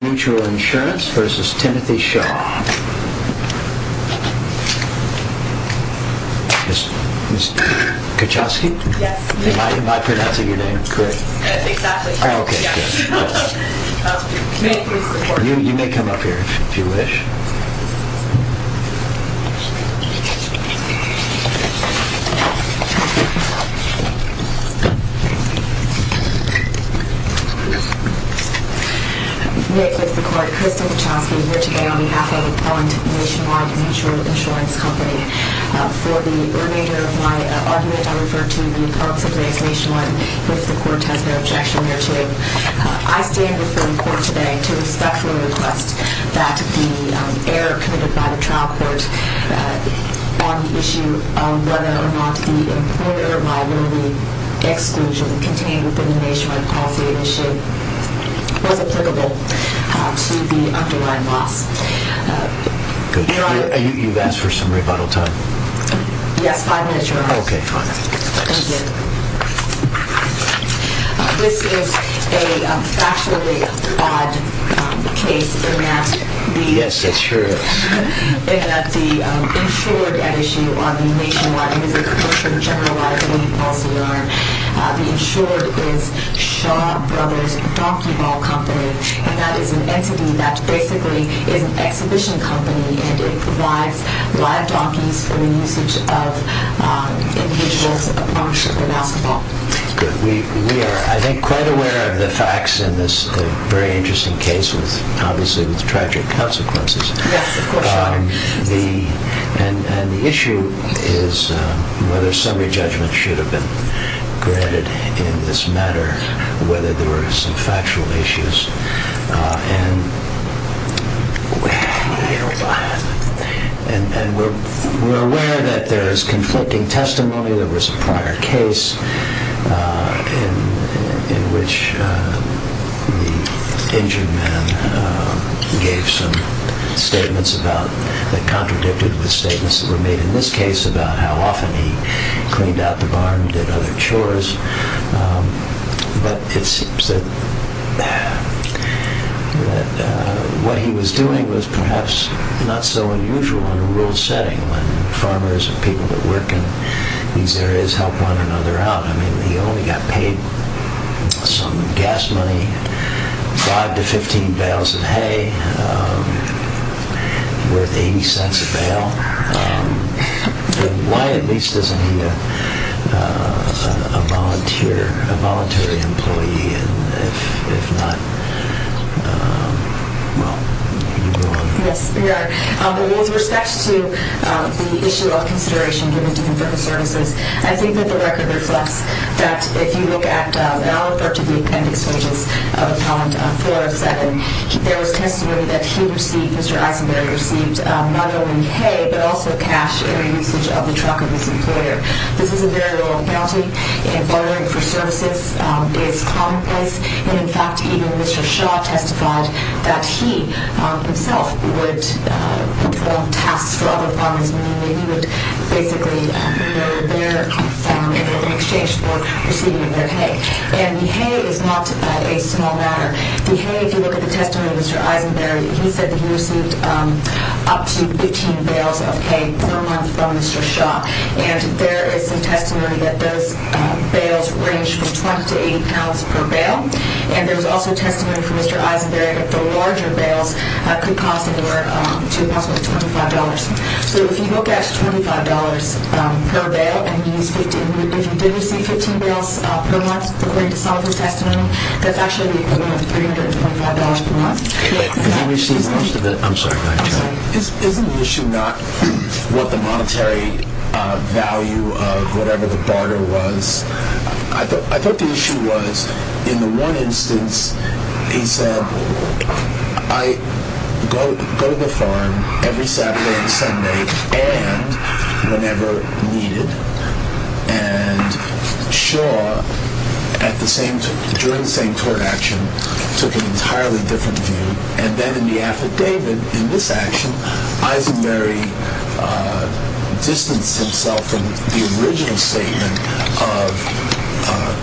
Mutual Insurance vs. Timothy Shaw. Ms. Kachosky? Yes. Am I pronouncing your name correctly? Exactly. Okay, good. You may come up here if you wish. I stand before the court today to respectfully request that the error committed by the trial court on the issue of whether or not the employer liability exclusion contained within the Nationwide Mutual Insurance policy was applicable to the underlying loss. You've asked for some rebuttal time? Yes, five minutes, Your Honor. Okay, fine. Thank you. This is a factually odd case in that the insured at issue on the Nationwide Mutual Insurance general liability policy are the insured is Shaw Brothers Donkey Ball Company and that is an entity that basically is an exhibition company and it provides live donkeys for the usage of individuals playing basketball. Good. We are, I think, quite aware of the facts in this very interesting case, obviously with tragic consequences. Yes, of course, Your Honor. And the issue is whether summary judgment should have been granted in this matter, whether there were some factual issues. And we're aware that there is conflicting testimony. There was a prior case in which the injured man gave some statements that contradicted the statements that were made in this case about how often he cleaned out the barn and did other chores. But it seems that what he was doing was perhaps not so unusual in a rural setting when farmers and people that work in these areas help one another out. I mean, he only got paid some gas money, 5 to 15 bales of hay worth 80 cents a bale. Why at least isn't he a volunteer, a voluntary employee? If not, well, you go on. Yes, Your Honor. With respect to the issue of consideration given to him for his services, I think that the record reflects that if you look at all of the appendix pages of Appellant 407, there was testimony that he received, Mr. Eisenberg received, not only hay but also cash in the usage of the truck of his employer. This is a very low penalty, and bartering for services is commonplace. And in fact, even Mr. Shaw testified that he himself would perform tasks for other farmers meaning that he would basically mow their farm in exchange for receiving their hay. And the hay is not a small matter. The hay, if you look at the testimony of Mr. Eisenberg, he said that he received up to 15 bales of hay per month from Mr. Shaw. And there is some testimony that those bales range from 20 to 80 pounds per bale. And there was also testimony from Mr. Eisenberg that the larger bales could cost him or her to possibly $25. So if you look at $25 per bale and you use 15, if you didn't receive 15 bales per month according to some of his testimony, that's actually the equivalent of $325 per month. Isn't the issue not what the monetary value of whatever the barter was? I thought the issue was, in the one instance, he said, I go to the farm every Saturday and Sunday and whenever needed. And Shaw, during the same court action, took an entirely different view. And then in the affidavit, in this action, Eisenberg distanced himself from the original statement of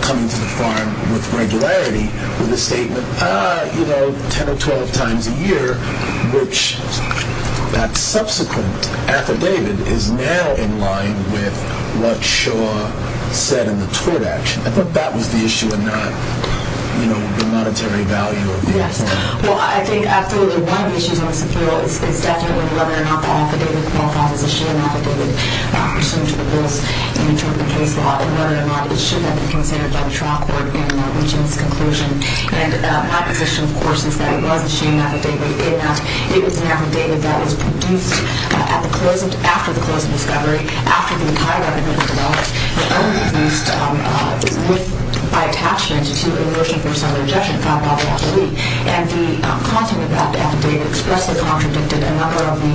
coming to the farm with regularity with a statement, you know, 10 or 12 times a year, which that subsequent affidavit is now in line with what Shaw said in the tort action. I thought that was the issue and not, you know, the monetary value of the farm. Yes. Well, I think absolutely one of the issues on this appeal is definitely whether or not the affidavit qualifies as a shearing affidavit pursuant to the rules in interpretative case law and whether or not it should have been considered by the trial court in reaching this conclusion. And my position, of course, is that it was a shearing affidavit in that it was an affidavit that was produced after the close of discovery, after the entire record had been developed, but only produced by attachment to a motion for some rejection filed by the attorney. And the content of that affidavit expressly contradicted a number of the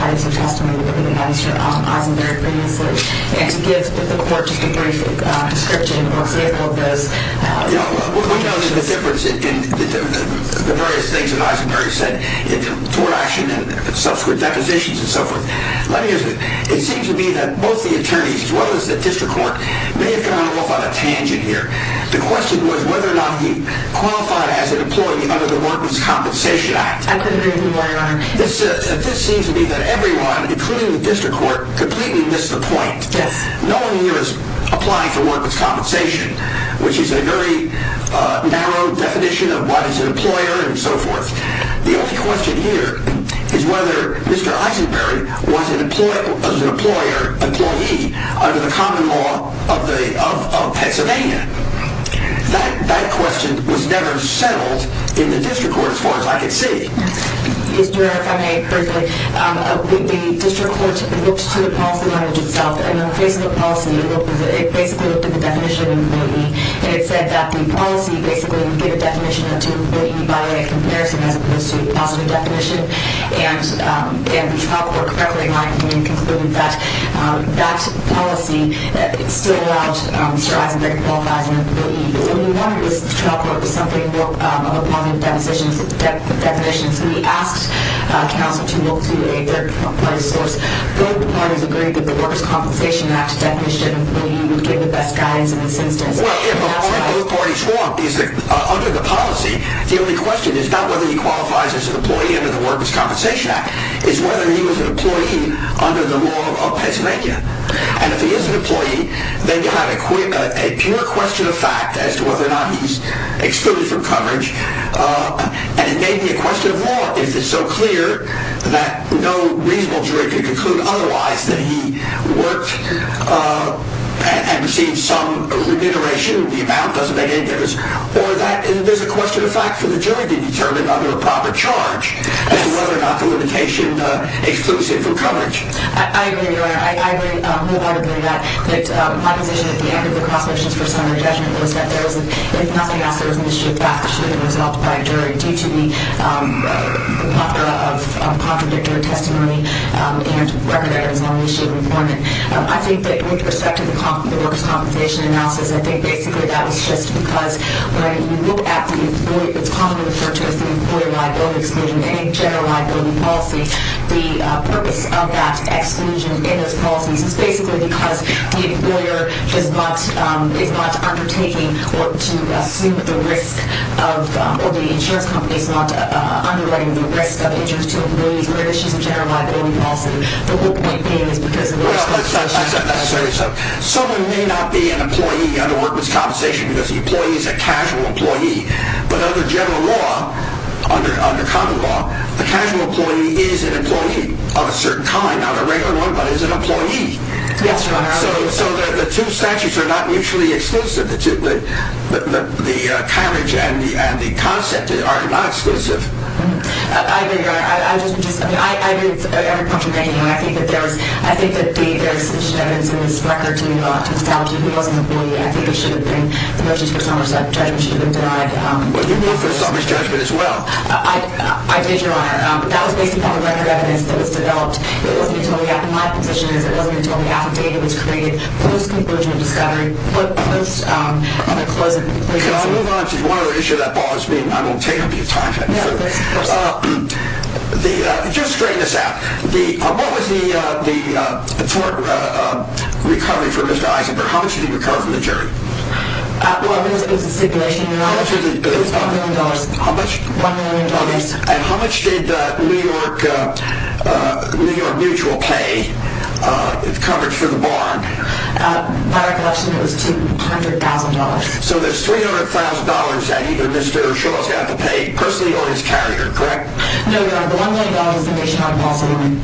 items of testimony that have been administered by Eisenberg previously. And to give the court just a brief description or example of this, you know, we know there's a difference in the various things that Eisenberg said in the tort action and subsequent depositions and so forth. Let me ask you, it seems to me that both the attorneys as well as the district court may have gone off on a tangent here. The question was whether or not he qualified as an employee under the Workman's Compensation Act. I disagree with you, Your Honor. This seems to me that everyone, including the district court, completely missed the point. Yes. The following here is applying for Workman's Compensation, which is a very narrow definition of what is an employer and so forth. The only question here is whether Mr. Eisenberg was an employee under the common law of Pennsylvania. That question was never settled in the district court as far as I could see. Yes, Your Honor, if I may briefly. The district court looked to the policy language itself. And in the face of the policy, it basically looked at the definition of an employee. And it said that the policy basically gave a definition of an employee by a comparison as opposed to a positive definition. And the trial court correctly in my opinion concluded that that policy still allowed Mr. Eisenberg to qualify as an employee. The trial court was something of a positive definition. So we asked counsel to look to a third-party source. Both parties agreed that the Worker's Compensation Act definition would give the best guidance in this instance. Well, if the point both parties want is that under the policy, the only question is not whether he qualifies as an employee under the Worker's Compensation Act. It's whether he was an employee under the law of Pennsylvania. And if he is an employee, then you have a pure question of fact as to whether or not he's excluded from coverage. And it may be a question of law if it's so clear that no reasonable jury can conclude otherwise that he worked and received some remuneration. The amount doesn't make any difference. Or that there's a question of fact for the jury to determine under a proper charge as to whether or not the limitation excludes him from coverage. I agree, Your Honor. I agree wholeheartedly that my position at the end of the cross motions for summary judgment was that if nothing else, there was an issue of fact that should have been resolved by a jury due to the lack of contradictory testimony and record errors on the issue of employment. I think that with respect to the Worker's Compensation analysis, I think basically that was just because when you look at what's commonly referred to as the employee liability exclusion and general liability policy, the purpose of that exclusion in those policies is basically because the employer is not undertaking or to assume the risk of, or the insurance company is not underwriting the risk of injuries to employees or issues of general liability policy. The whole point being is because of the Worker's Compensation analysis. Someone may not be an employee under Worker's Compensation because the employee is a casual employee. But under general law, under common law, a casual employee is an employee of a certain kind, not a regular one, but is an employee. Yes, Your Honor. So the two statutes are not mutually exclusive. The coverage and the concept are not exclusive. I agree, Your Honor. I agree with every point you're making. I think it should have been the motions for Somerset judgment should have been denied. Well, you moved for Somerset judgment as well. I did, Your Honor. That was based upon the record evidence that was developed. My position is it wasn't until the affidavit was created, post-conclusion of discovery, post-closure. Can I move on to one other issue? That bothers me and I won't take up your time. No, of course. Just straighten this out. What was the tort recovery for Mr. Eisenberg? How much did he recover from the jury? Well, it was a stipulation, Your Honor. It was $1 million. How much? $1 million. And how much did New York Mutual pay coverage for the barn? By recollection, it was $200,000. So there's $300,000 that either Mr. Shaw's got to pay personally or his carrier, correct? No, Your Honor. The $1 million is the nationwide loss of money.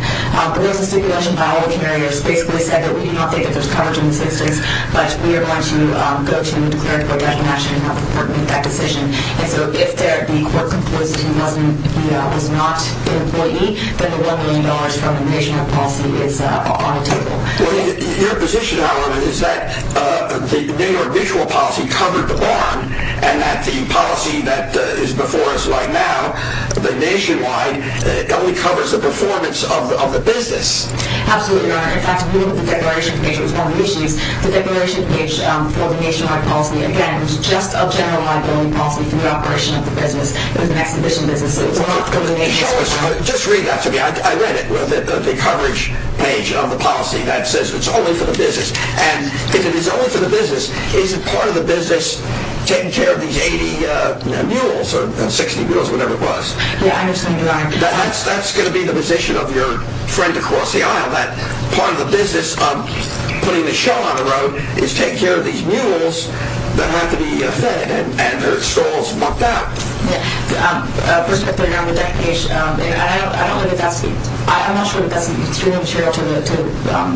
There was a stipulation by all the carriers. Basically, they said that we do not think that there's coverage in the statistics, but we are going to go to a declaratory definition and have the court make that decision. And so if the court concludes that he was not an employee, then the $1 million from the nationwide policy is on the table. Your position, however, is that the New York Mutual policy covered the barn and that the policy that is before us right now, the nationwide, only covers the performance of the business. Absolutely, Your Honor. In fact, if you look at the declaration page, it was one of the issues. The declaration page for the nationwide policy, again, was just a general liability policy for the operation of the business. It was an exhibition business, so it was not for the nationwide policy. Just read that to me. I read it, the coverage page of the policy that says it's only for the business. And if it is only for the business, is it part of the business taking care of these 80 mules or 60 mules, whatever it was? Yeah, I understand, Your Honor. That's going to be the position of your friend across the aisle, that part of the business of putting the show on the road is take care of these mules that have to be fed and their stalls mucked out. Yeah. First of all, Your Honor, with that page, I don't know if that's— I'm not sure if that's extremely material to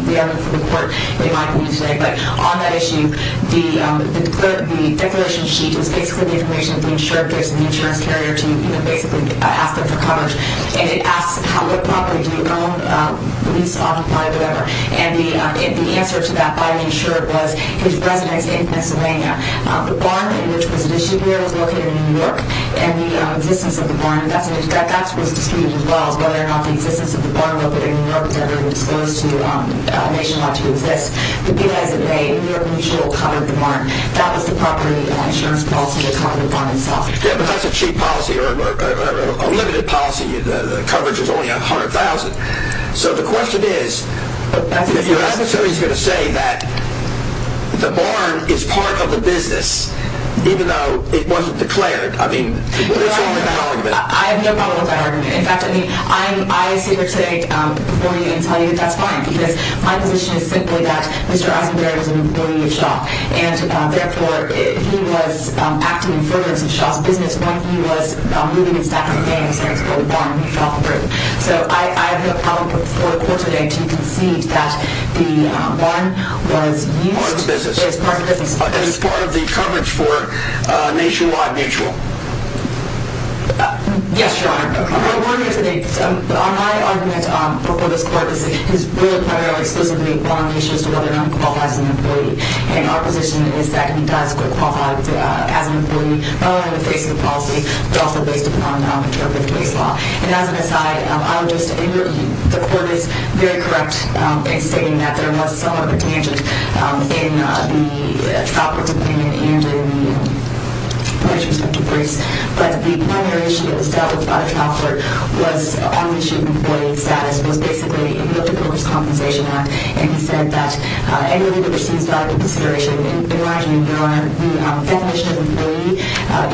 the evidence from the court in my opinion today. But on that issue, the declaration sheet is basically the information that the insured gives to the insurance carrier to basically ask them for coverage. And it asks what property do you own, lease, automobile, whatever. And the answer to that by an insured was his residence in Pennsylvania. The barn in which he was issued here was located in New York, and the existence of the barn, that was disputed as well, whether or not the existence of the barn located in New York was ever disclosed to a nation about to exist. But because of that, New York Mutual covered the barn. That was the property and insurance policy that covered the barn itself. Yeah, but that's a cheap policy or a limited policy. The coverage was only $100,000. So the question is, if your adversary is going to say that the barn is part of the business, even though it wasn't declared, I mean, what is wrong with that argument? I have no problem with that argument. In fact, I mean, I say here today before you and tell you that that's fine and, therefore, he was acting in fervence of Shaw's business when he was moving the stack of banks and the barn fell through. So I have no problem before the court today to concede that the barn was used as part of the business. As part of the business. As part of the coverage for Nationwide Mutual. Yes, Your Honor. Okay. My argument before this court is really primarily exclusively on the issues as to whether or not he qualifies as an employee. And our position is that he does qualify as an employee, not only in the face of the policy, but also based upon the non-contributive case law. And as an aside, I would just, the court is very correct in stating that there was somewhat of a tangent in the Tafler's opinion and in the case of DeVries. But the primary issue that was dealt with by the Tafler was on the issue of employee status. It was basically, he looked at the Worker's Compensation Act and he said that anyone who receives valuable consideration, in my opinion, Your Honor, the definition of an employee,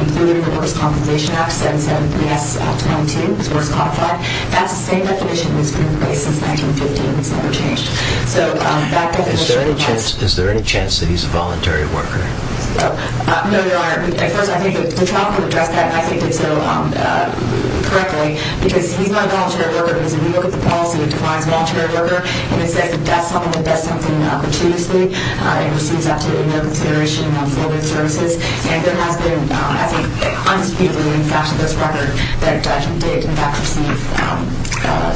including the Worker's Compensation Act 773S22, which was codified, that's the same definition that's been in place since 1915. It's never changed. So that definition applies. Is there any chance that he's a voluntary worker? No, Your Honor. First, I think the trial court addressed that, and I think they did so correctly, because he's not a voluntary worker because if you look at the policy, it defines voluntary worker, and it says that that's something that does something opportunistically. It receives up to a year of consideration for the services, and there has been, I think, an unspeakable impact to this record that he did, in fact, receive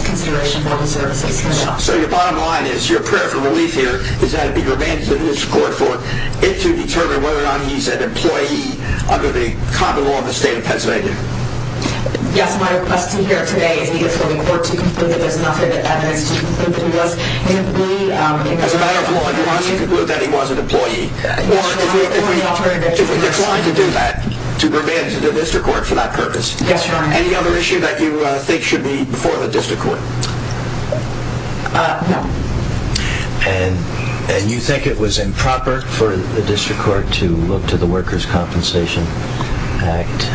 consideration for the services. So your bottom line is, your prayer for relief here is that it be granted to the district court for it to determine whether or not he's an employee under the common law of the state of Pennsylvania. Yes, my request to hear today is for the court to conclude that there's enough evidence to conclude that he was an employee. As a matter of law, do you want us to conclude that he was an employee? Yes, Your Honor. Do you want us to do that, to demand to the district court for that purpose? Yes, Your Honor. Any other issue that you think should be before the district court? No. And you think it was improper for the district court to look to the Workers' Compensation Act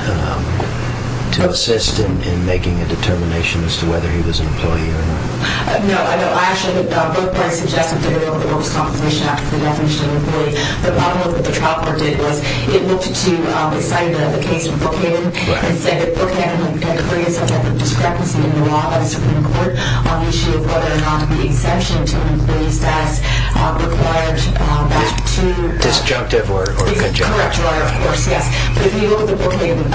to assist in making a determination as to whether he was an employee or not? No, I know. I actually, both parties suggested the Workers' Compensation Act for the definition of an employee, but I don't know that the trial court did. It looked to the site of the case in Brookhaven, and said that Brookhaven had created some type of discrepancy in the law by the Supreme Court on the issue of whether or not the exemption to an employee status required that two Disjunctive or conjunctural. Correct, Your Honor, of course, yes. But if you look at the Brookhaven,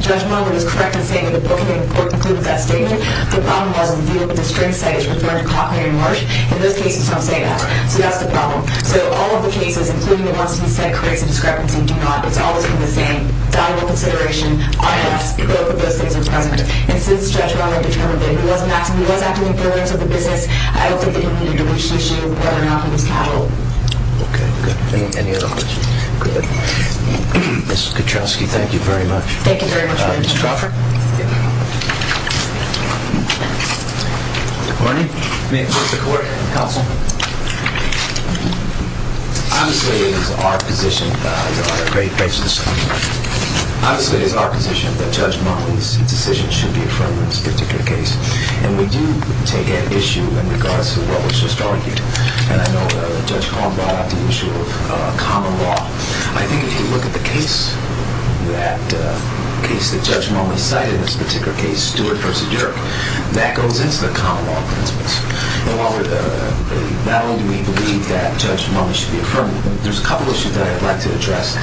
Judge Romer was correct in saying that the Brookhaven court concluded that statement. The problem was the view of the district site is referring to Cochrane and Marsh. In those cases, it's not saying that. So that's the problem. So all of the cases, including the ones he said creates a discrepancy, do not. It's always been the same. Dialogue, consideration. Both of those things are present. And since Judge Romer determined that he wasn't acting, he was acting in favor of the business, I don't think the community appreciates you whether or not he was cattle. Okay, good. Any other questions? Good. Ms. Kaczkowski, thank you very much. Thank you very much. Mr. Crawford. Good morning. May it please the court and counsel. Obviously, it is our position, there are a lot of great cases, Obviously, it is our position that Judge Monely's decision should be affirmed in this particular case. And we do take that issue in regards to what was just argued. And I know that Judge Collin brought up the issue of common law. I think if you look at the case, that case that Judge Monely cited in this particular case, Stewart v. Dirk, that goes into the common law principles. And while not only do we believe that Judge Monely should be affirmed, there's a couple of issues that I'd like to address.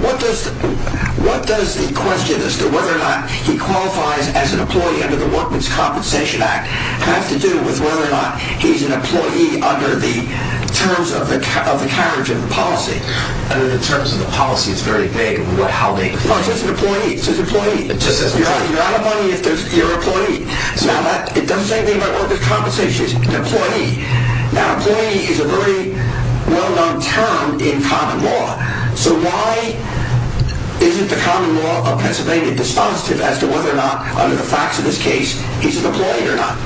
What does the question as to whether or not he qualifies as an employee under the Workman's Compensation Act have to do with whether or not he's an employee under the terms of the carriage of the policy? Under the terms of the policy, it's very vague. How vague? No, it's just an employee. It's just an employee. You're out of money if you're an employee. Now, it doesn't say anything about Workman's Compensation. It's just an employee. Now, employee is a very well-known term in common law. So why isn't the common law of Pennsylvania dispositive as to whether or not, under the facts of this case, he's an employee or not?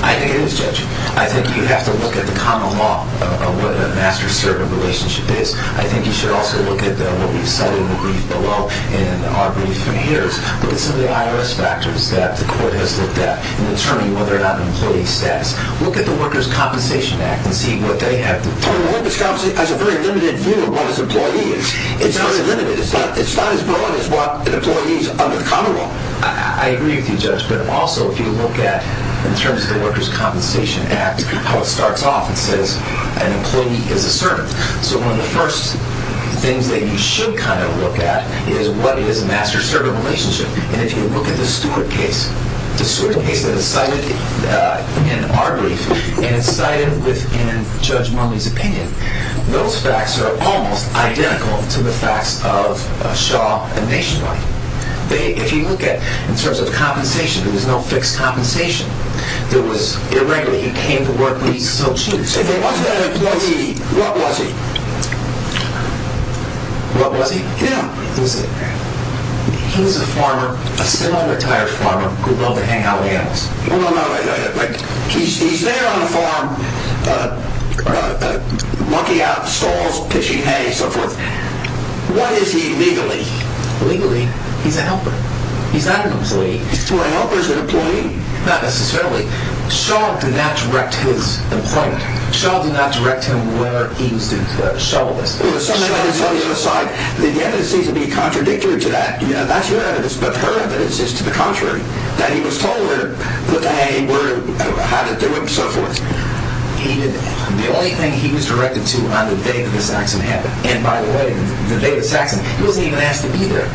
I think it is, Judge. I think you have to look at the common law of what a master-servant relationship is. I think you should also look at what we've cited in the brief below and our brief from here. Look at some of the IRS factors that the court has looked at in determining whether or not an employee stands. Look at the Workers' Compensation Act and see what they have to say. The Workers' Compensation Act has a very limited view of what an employee is. It's very limited. It's not as broad as what an employee is under the common law. I agree with you, Judge. But also, if you look at, in terms of the Workers' Compensation Act, how it starts off, it says an employee is a servant. So one of the first things that you should kind of look at is what is a master-servant relationship. And if you look at the Stewart case, the Stewart case that is cited in our brief and is cited within Judge Murley's opinion, those facts are almost identical to the facts of Shaw and Nationwide. If you look at, in terms of compensation, there was no fixed compensation. It was irregular. He came to work, but he still cheated. If it wasn't an employee, what was he? What was he? He was a farmer, a semi-retired farmer, who loved to hang out with animals. He's there on a farm, mucking out stalls, pitching hay, and so forth. What is he legally? Legally, he's a helper. He's not an employee. Well, a helper is an employee. Not necessarily. Shaw did not direct his employment. Shaw did not direct him where he was due to shovel this. The evidence seems to be contradictory to that. That's your evidence, but her evidence is to the contrary, that he was told where they were, how to do it, and so forth. The only thing he was directed to on the day that the Saxon happened, and by the way, the day of the Saxon, he wasn't even asked to be there.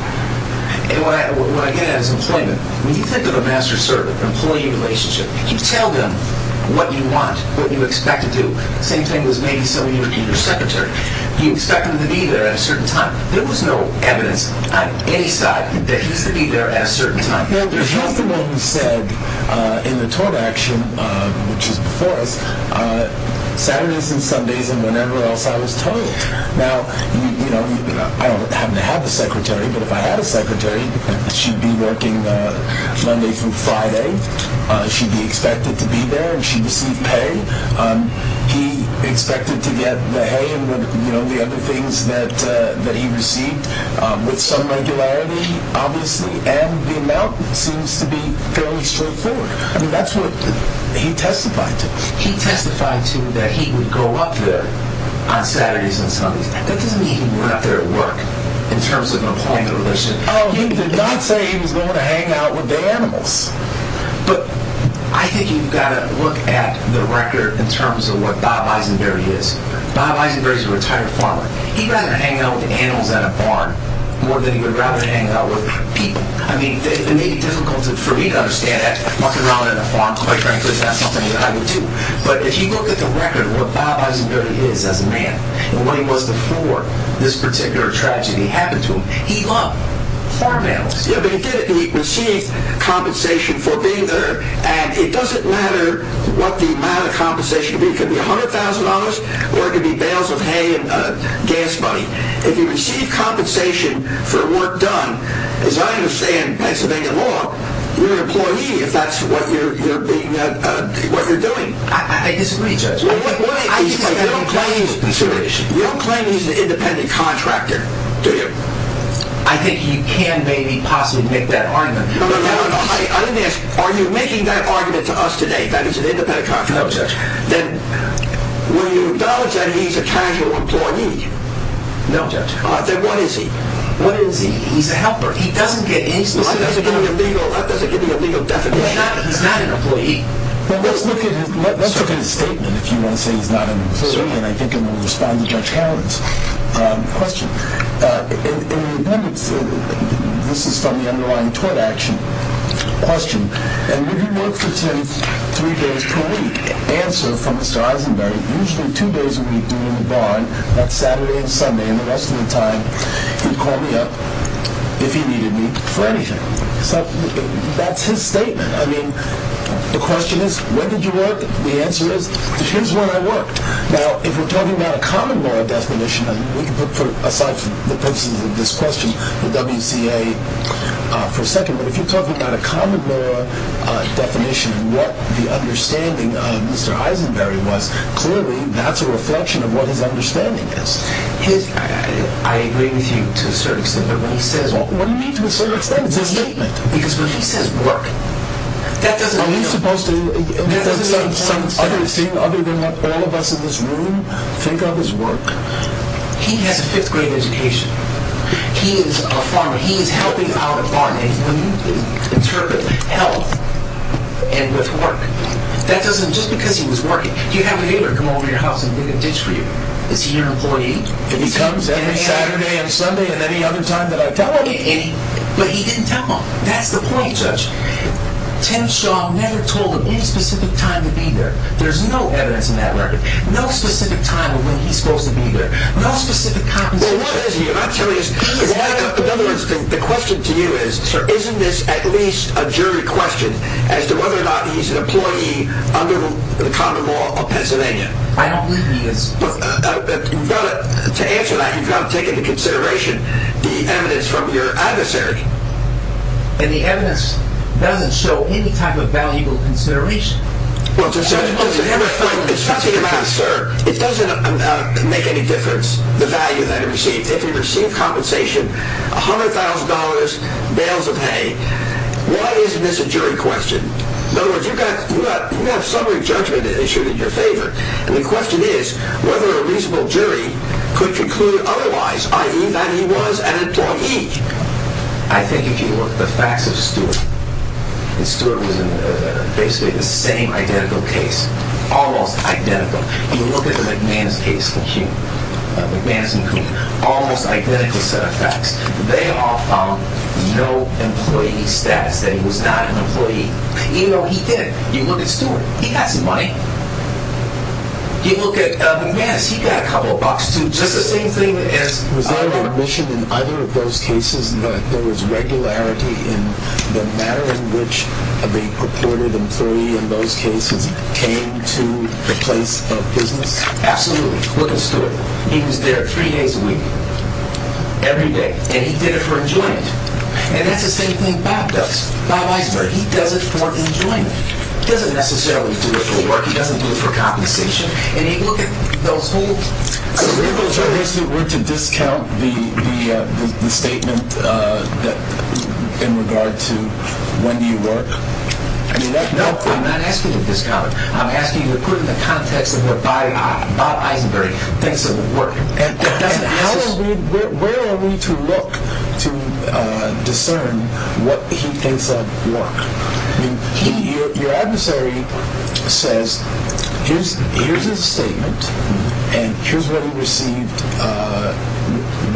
And what I get at is employment. When you think of a master-servant employee relationship, you tell them what you want, what you expect to do. Same thing was maybe so in your secretary. You expect him to be there at a certain time. There was no evidence on any side that he was to be there at a certain time. He's the one who said in the tort action, which is before us, Saturdays and Sundays and whenever else I was told. Now, I don't happen to have a secretary, but if I had a secretary, she'd be working Monday through Friday. She'd be expected to be there, and she'd receive pay. He expected to get the hay and the other things that he received with some regularity, obviously, and the amount seems to be fairly straightforward. I mean, that's what he testified to. He testified to that he would go up there on Saturdays and Sundays. That doesn't mean he went up there at work in terms of an employment relationship. Oh, he did not say he was going to hang out with the animals. But I think you've got to look at the record in terms of what Bob Eisenberry is. Bob Eisenberry is a retired farmer. He'd rather hang out with the animals at a barn more than he would rather hang out with people. I mean, it may be difficult for me to understand that, walking around at a farm, quite frankly, is not something that I would do, but if you look at the record of what Bob Eisenberry is as a man and what he was before this particular tragedy happened to him, he loved farm animals. Yeah, but he did receive compensation for being there, and it doesn't matter what the amount of compensation could be. It could be $100,000 or it could be bales of hay and gas money. If you receive compensation for work done, as I understand Pennsylvania law, you're an employee if that's what you're doing. I disagree, Judge. You don't claim he's an independent contractor, do you? I think you can maybe possibly make that argument. I didn't ask, are you making that argument to us today that he's an independent contractor? No, Judge. Then will you acknowledge that he's a casual employee? No, Judge. Then what is he? What is he? He's a helper. He doesn't get any specific help. That doesn't give you a legal definition. He's not an employee. Well, let's look at his statement if you want to say he's not an employee, and I think I'm going to respond to Judge Howard's question. In the appendix, this is from the underlying tort action question, and would you work for three days per week? Answer from Mr. Eisenberg, usually two days a week doing the barn. That's Saturday and Sunday, and the rest of the time he'd call me up if he needed me for anything. So that's his statement. I mean, the question is, when did you work? The answer is, here's when I worked. Now, if we're talking about a common law definition, and we can put aside the purposes of this question for WCA for a second, but if you're talking about a common law definition and what the understanding of Mr. Eisenberg was, clearly that's a reflection of what his understanding is. I agree with you to a certain extent, but when he says work. What do you mean to a certain extent? It's his statement. Because when he says work, that doesn't make no sense. It doesn't make any sense. Other than what all of us in this room think of as work. He has a fifth grade education. He is a farmer. He is helping out a barn. And when you interpret health and with work, that doesn't, just because he was working, you'd have a neighbor come over to your house and dig a ditch for you. Is he your employee? If he comes every Saturday and Sunday and any other time that I tell him. But he didn't tell him. That's the point, Judge. Tim Shaw never told him any specific time to be there. There's no evidence in that record. No specific time of when he's supposed to be there. No specific compensation. Well, what is he? I'm telling you. In other words, the question to you is, isn't this at least a jury question as to whether or not he's an employee under the common law of Pennsylvania? I don't believe he is. To answer that, you've got to take into consideration the evidence from your adversary. And the evidence doesn't show any type of valuable consideration. Well, it's not the amount, sir. It doesn't make any difference, the value that he receives. If he received compensation, $100,000, bales of hay, why isn't this a jury question? In other words, you have summary judgment issued in your favor. And the question is whether a reasonable jury could conclude otherwise, i.e., that he was an employee. I think if you look at the facts of Stewart, and Stewart was in basically the same identical case, almost identical. If you look at the McManus case, McManus and Coon, almost identical set of facts. They all found no employee status, that he was not an employee, even though he did. You look at Stewart, he got some money. You look at McManus, he got a couple of bucks, too. Was there an admission in either of those cases that there was regularity in the manner in which the purported employee in those cases came to the place of business? Absolutely. Look at Stewart. He was there three days a week, every day. And he did it for enjoyment. And that's the same thing Bob does. Bob Eisner, he does it for enjoyment. He doesn't necessarily do it for work. He doesn't do it for compensation. And you look at those whole cases. Were you supposed to discount the statement in regard to when do you work? No, I'm not asking you to discount it. I'm asking you to put it in the context of what Bob Eisner thinks of work. And where are we to look to discern what he thinks of work? Your adversary says here's his statement, and here's what he received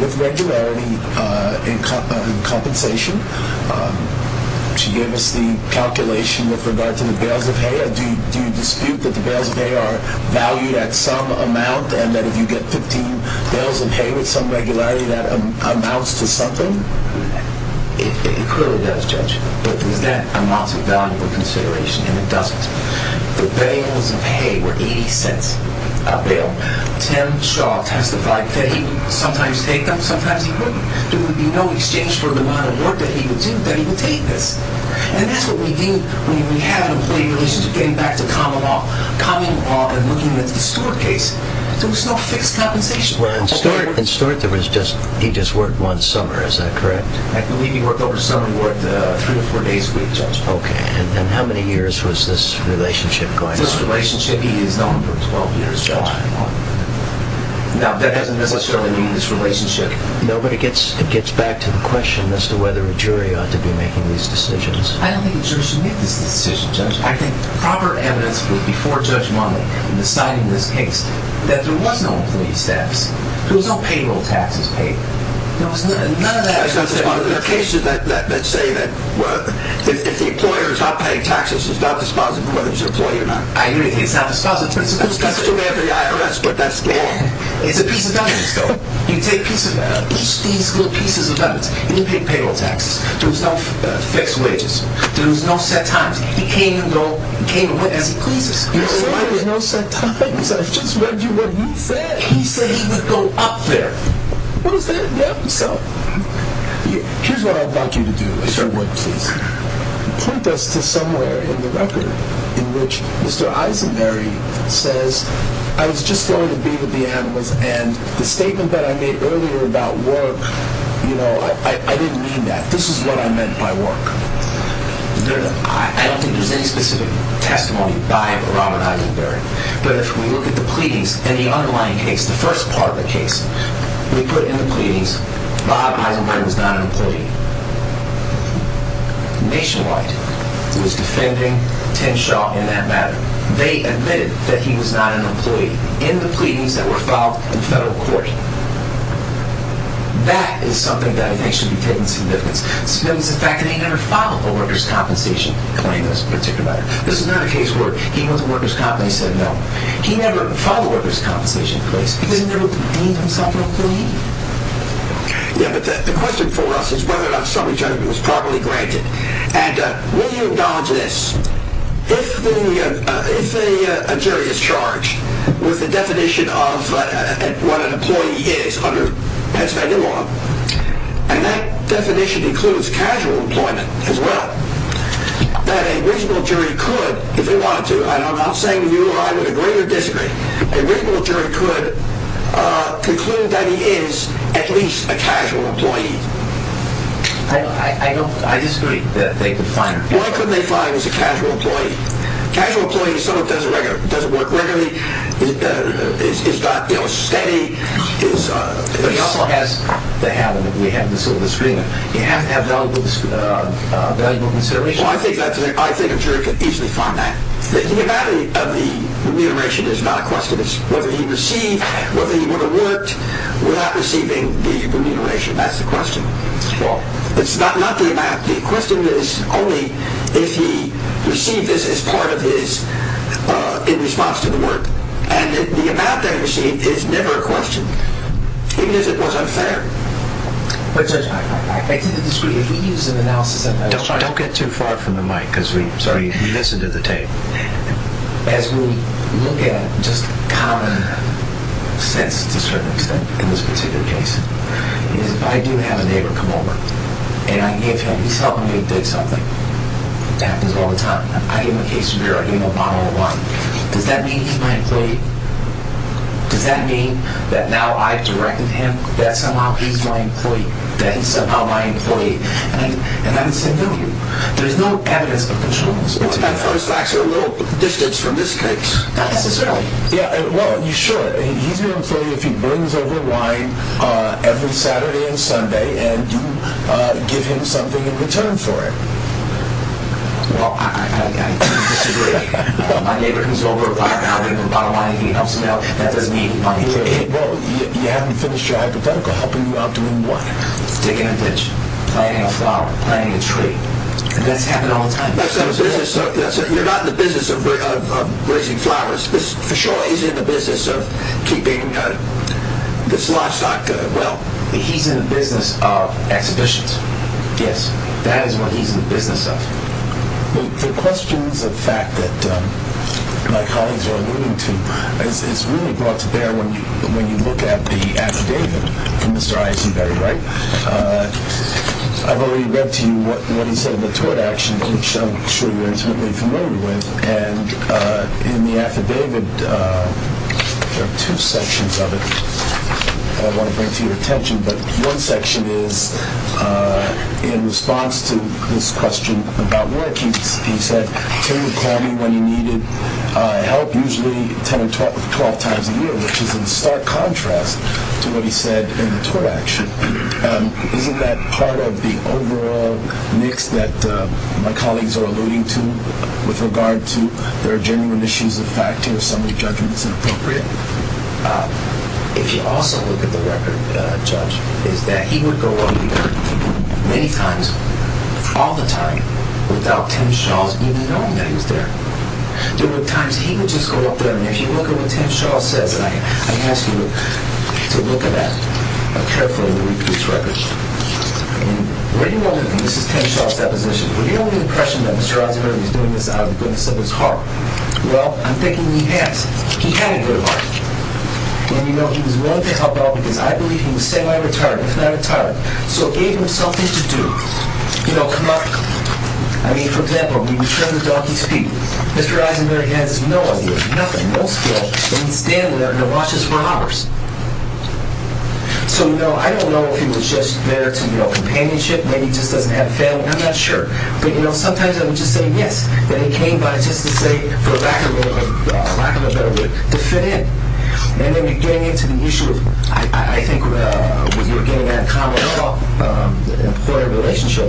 with regularity in compensation. She gave us the calculation with regard to the bales of hay. Do you dispute that the bales of hay are valued at some amount and that if you get 15 bales of hay with some regularity that amounts to something? It clearly does, Judge. But is that amounts of valuable consideration? And it doesn't. The bales of hay were 80 cents a bale. Tim Shaw testified that he would sometimes take them, sometimes he wouldn't. There would be no exchange for the amount of work that he would do, that he would take this. And that's what we need when we have an employee relationship, getting back to common law, common law and looking at the Stewart case. There was no fixed compensation. In Stewart, he just worked one summer. Is that correct? I believe he worked over summer. He worked three or four days a week, Judge. Okay. And how many years was this relationship going on? This relationship, he is known for 12 years, Judge. Wow. Now, that doesn't necessarily mean this relationship. No, but it gets back to the question as to whether a jury ought to be making these decisions. I don't think a jury should make this decision, Judge. I think proper evidence was before Judge Monley in deciding this case that there was no employee status. There was no payroll taxes paid. There are cases that say that if the employer is not paying taxes, he's not dispositive whether he's an employee or not. I hear you. He's not dispositive. That's the way of the IRS, but that's the law. It's a piece of evidence, though. You take each of these little pieces of evidence. He didn't pay payroll taxes. There was no fixed wages. There was no set times. He came and went as he pleases. You're saying there was no set times? I just read you what he said. He said he would go up there. What is that? Yeah, so here's what I'd like you to do, if you would, please. Point us to somewhere in the record in which Mr. Eisenberry says, I was just going to be with the animals, and the statement that I made earlier about work, you know, I didn't mean that. This is what I meant by work. I don't think there's any specific testimony by Robert Eisenberry, but if we look at the pleadings and the underlying case, the first part of the case, we put in the pleadings, Bob Eisenberry was not an employee. Nationwide was defending Tim Shaw in that matter. They admitted that he was not an employee in the pleadings that were filed in federal court. That is something that I think should be taken to significance. Significance is the fact that he never filed a workers' compensation claim in this particular matter. This is another case where he went to the workers' comp and they said no. He never filed a workers' compensation case because he never claimed himself an employee. Yeah, but the question for us is whether or not somebody was properly granted. And will you acknowledge this? If a jury is charged with the definition of what an employee is under Pennsylvania law, and that definition includes casual employment as well, that a reasonable jury could, if they wanted to, and I'm not saying you or I would agree or disagree, a reasonable jury could conclude that he is at least a casual employee. I disagree that they could find... Why couldn't they find he was a casual employee? A casual employee is someone who doesn't work regularly, is not steady, is... But he also has to have, and we have this over the screen, he has to have valuable consideration. Well, I think a jury could easily find that. The amount of the remuneration is not a question. It's whether he received, whether he would have worked without receiving the remuneration. That's the question. Well... It's not the amount. The question is only if he received this as part of his... in response to the work. And the amount that he received is never a question. Even if it was unfair. But, Judge, I disagree. If we use an analysis of... Don't get too far from the mic, because we... Sorry. We listen to the tape. As we look at just common sense, to a certain extent, in this particular case, is if I do have a neighbor come over, and I give him... He's helping me with something. It happens all the time. I give him a case of beer. I give him a bottle of wine. Does that mean he's my employee? Does that mean that now I've directed him that somehow he's my employee? That he's somehow my employee? And I'm the same with you. There's no evidence of control in this case. Well, that's actually a little distance from this case. Not necessarily. Yeah, well, you should. He's your employee if he brings over wine every Saturday and Sunday, and you give him something in return for it. Well, I disagree. My neighbor comes over, I give him a bottle of wine, he helps me out. That doesn't mean he's my employee. Hey, bro, you haven't finished your hypothetical. Helping you out doing what? Digging a ditch. Planting a flower. Planting a tree. And that's happening all the time. You're not in the business of raising flowers. For sure, he's in the business of keeping this livestock well. He's in the business of exhibitions. Yes. That is what he's in the business of. The questions of fact that my colleagues are alluding to is really brought to bear when you look at the affidavit from Mr. Eisenberg, right? I've already read to you what he said in the tort action, which I'm sure you're intimately familiar with. And in the affidavit, there are two sections of it I want to bring to your attention. But one section is in response to this question about work, he said, Tim would call me when he needed help, usually 10 or 12 times a year, which is in stark contrast to what he said in the tort action. Isn't that part of the overall mix that my colleagues are alluding to with regard to there are genuine issues of fact here, summary judgments inappropriate? If you also look at the record, Judge, is that he would go up there many times, all the time, without Tim Shaw's even knowing that he was there. There were times he would just go up there, and if you look at what Tim Shaw says, and I ask you to look at that carefully when you read this record. And what do you all think? This is Tim Shaw's deposition. Do you have the impression that Mr. Eisenberg is doing this out of the goodness of his heart? Well, I'm thinking he has. He had a good heart. And, you know, he was willing to help out because I believe he was semi-retired, if not retired. So it gave him something to do. You know, come up, I mean, for example, when you turn the donkey's feet, Mr. Eisenberg has no idea, nothing, no skill, and he's standing there and watches for hours. So, you know, I don't know if he was just there to, you know, companionship, maybe he just doesn't have a family, I'm not sure. But, you know, sometimes I would just say yes, then he came by just to say, for lack of a better word, to fit in. And then getting into the issue of, I think, with the beginning of that common law employer relationship,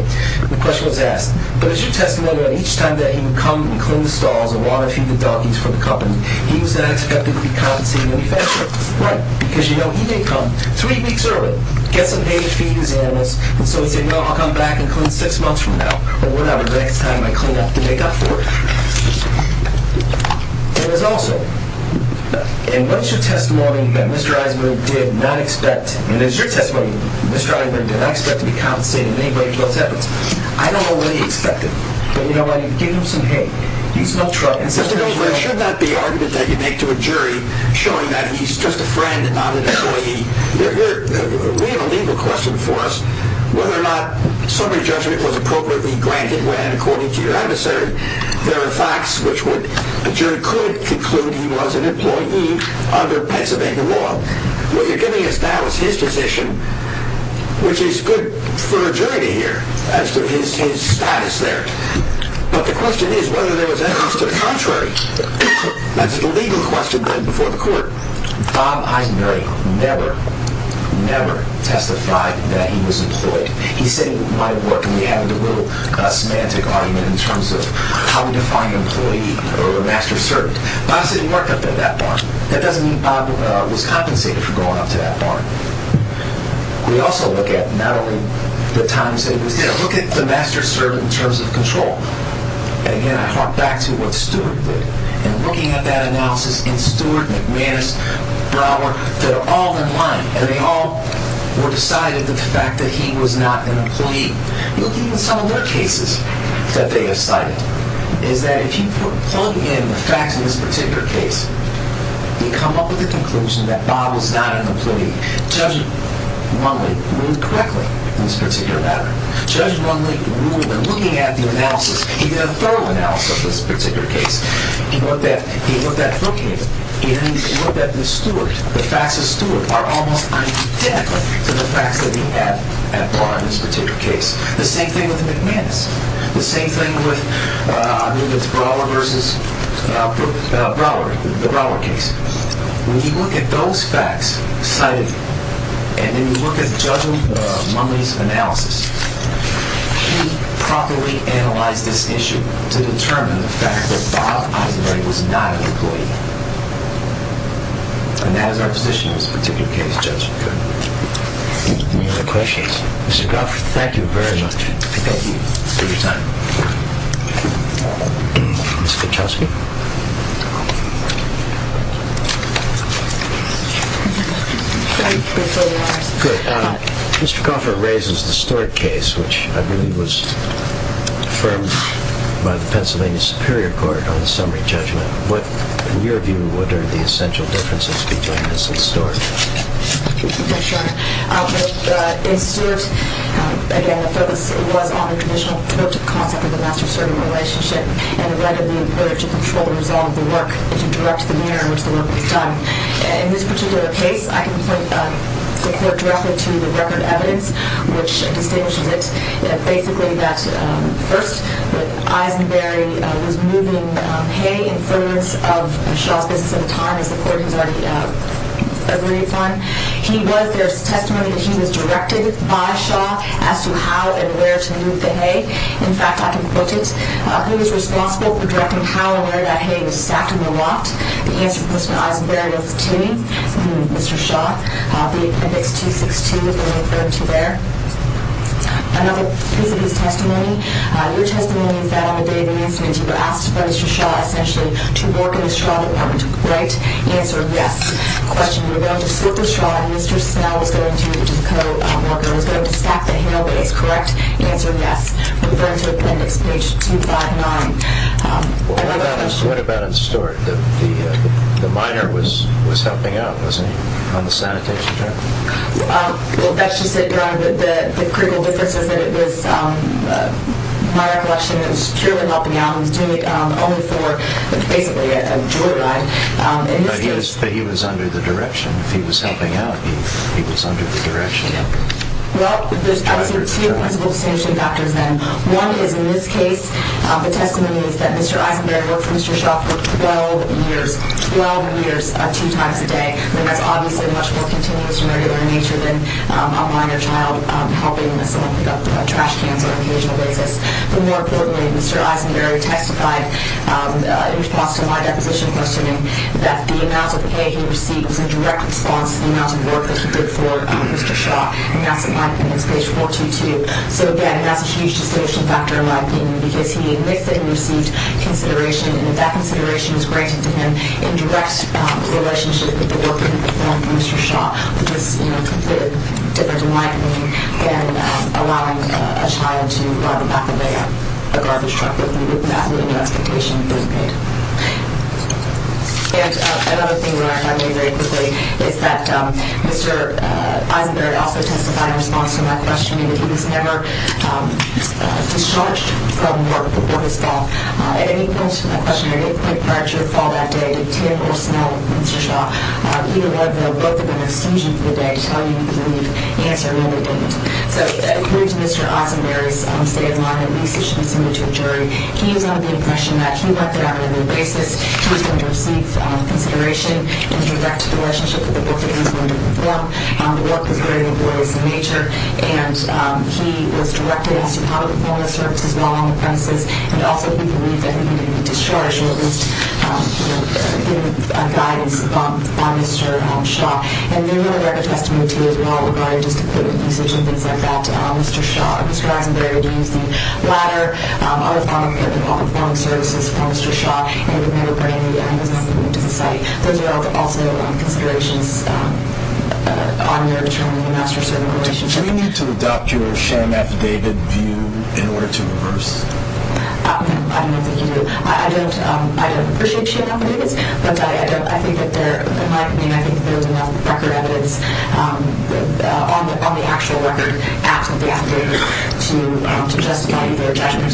the question was asked, but is your testimony that each time that he would come and clean the stalls and water and feed the donkeys for the company, he was not expecting to be compensated any faster? Right, because, you know, he didn't come three weeks early, get some hay to feed his animals, and so he said, no, I'll come back and clean six months from now. But what about the next time I clean up and make up for it? And there's also, and what's your testimony that Mr. Eisenberg did not expect, and is your testimony that Mr. Eisenberg did not expect to be compensated in any way for those efforts? I don't know what he expected. But, you know what, you give him some hay, he's no trouble. It should not be an argument that you make to a jury showing that he's just a friend, not an employee. We have a legal question for us, whether or not summary judgment was appropriately granted when, according to your episode, there are facts which a jury could conclude he was an employee under Pennsylvania law. What you're giving us now is his position, which is good for a jury to hear as to his status there. But the question is whether there was evidence to the contrary. That's the legal question then before the court. Bob Eisenberg never, never testified that he was employed. He said in my work, and we have a little semantic argument in terms of how we define an employee or a master servant. Bob said he worked up at that barn. That doesn't mean Bob was compensated for going up to that barn. We also look at not only the times that he was there, look at the master servant in terms of control. And again, I hark back to what Stewart did. And looking at that analysis, and Stewart, McManus, Brower, they're all in line, and they all were decided that the fact that he was not an employee. You look at even some of their cases that they have cited, is that if you plug in the facts in this particular case, you come up with a conclusion that Bob was not an employee. Judge Rundle ruled correctly in this particular matter. Judge Rundle ruled, and looking at the analysis, he did a thorough analysis of this particular case. He looked at Brookings. He looked at Stewart. The facts of Stewart are almost identical to the facts that he had at Barn in this particular case. The same thing with McManus. The same thing with Brower versus Brower, the Brower case. When you look at those facts cited, and then you look at Judge Munley's analysis, he properly analyzed this issue to determine the fact that Bob Eisenberg was not an employee. And that is our position in this particular case, Judge. Any other questions? Mr. Goffert, thank you very much. Thank you for your time. Mr. Kuchelski? Mr. Goffert raises the Stewart case, which I believe was affirmed by the Pennsylvania Superior Court on the summary judgment. In your view, what are the essential differences between this and Stewart? In Stewart, again, the focus was on the traditional concept of the master-servant relationship and the right of the employer to control and resolve the work and to direct the manner in which the work was done. In this particular case, I can point the court directly to the record of evidence, which distinguishes it basically that first, that Eisenberg was moving hay in front of Shaw's business at the time, as the court has already agreed upon. He was, there's testimony that he was directed by Shaw as to how and where to move the hay. In fact, I can quote it. He was responsible for directing how and where that hay was stacked in the loft. The answer was from Eisenberg to Mr. Shaw. The appendix 262 is going to refer to there. Another piece of his testimony, your testimony is that on the day of the incident, you were asked by Mr. Shaw, essentially, to work in the straw that went right. Answer, yes. Question, you were going to slip the straw and Mr. Smell, which is the co-worker, was going to stack the hay, but it's correct. Answer, yes. Refer to appendix page 259. Well, what about in store? The miner was helping out, wasn't he, on the sanitation job? Well, that's just it, Your Honor. The critical difference is that it was a minor collection that was purely helping out. He was doing it only for, basically, a jewelry line. But he was under the direction. If he was helping out, he was under the direction. Well, there's two principal distinguishing factors, then. One is, in this case, the testimony is that Mr. Eisenberry worked for Mr. Shaw for 12 years, 12 years, two times a day. That's obviously much more continuous and regular in nature than a minor child helping someone pick up trash cans on an occasional basis. But more importantly, Mr. Eisenberry testified in response to my deposition questioning that the amount of hay he received was in direct response to the amount of work that he did for Mr. Shaw. And that's in my opinion. It's page 422. So, again, that's a huge distinguishing factor, in my opinion, because he admits that he received consideration. And if that consideration was granted to him in direct relationship with the work that he performed for Mr. Shaw, which is completely different, in my opinion, than allowing a child to ride in the back of a garbage truck with the absolute expectation of being paid. And another thing that I found very quickly is that Mr. Eisenberry also testified in response to my questioning that he was never discharged from work before his fall. And it equals to my question, did he quit prior to his fall that day? Did he have personnel with Mr. Shaw? Either way, they'll both have been extinguished for the day to tell you he could leave. The answer really didn't. So, according to Mr. Eisenberry's state of mind, at least it should be similar to a jury, he is under the impression that he worked it out on a regular basis. He was going to receive consideration in his direct relationship with the work that he was going to perform. The work was very laborious in nature and he was directed as to how to perform the service as well on the premises. And also, he believed that he didn't need to be discharged or at least give guidance on Mr. Shaw. And there were other testimonies as well regarding just equipment usage and things like that. Mr. Eisenberry had used the ladder. Other prominent people had performed services for Mr. Shaw and were made aware that he was not going to move to the site. Those are also considerations on your term in the master-servant relationship. Do we need to adopt your sham affidavit view in order to reverse? I don't think you do. I don't appreciate sham affidavits, but in my opinion, I think there is enough record evidence on the actual record at the affidavit to justify your judgment. I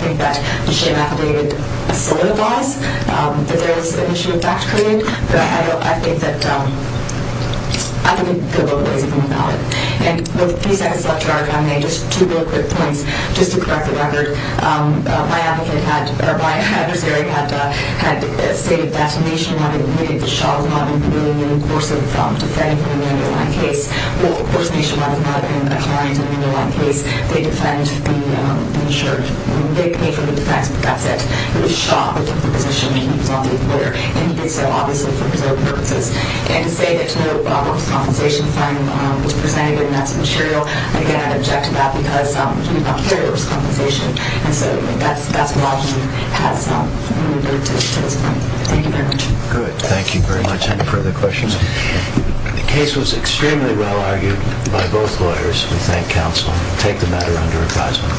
think that the sham affidavit solidifies if there is an issue of fact-creating, but I think that the law doesn't come about it. And with the three seconds left to our time, just two real quick points just to correct the record. My advocate had, or my adversary had stated that Mr. Shaw was not going to be reimbursed for defending him in the underlying case. Well, of course, nationwide is not a client in the underlying case. They defend the insured. They pay for the defense, but that's it. It was Shaw who took the position, and he was on the acquittal, and he did so, obviously, for his own purposes. And to say that no risk compensation fine was presented in that scenario, again, I object to that because we don't carry risk compensation. And so that's what I've seen has moved it to this point. Thank you very much. Good. Thank you very much. Any further questions? The case was extremely well argued by both lawyers. We thank counsel. Take the matter under advisement.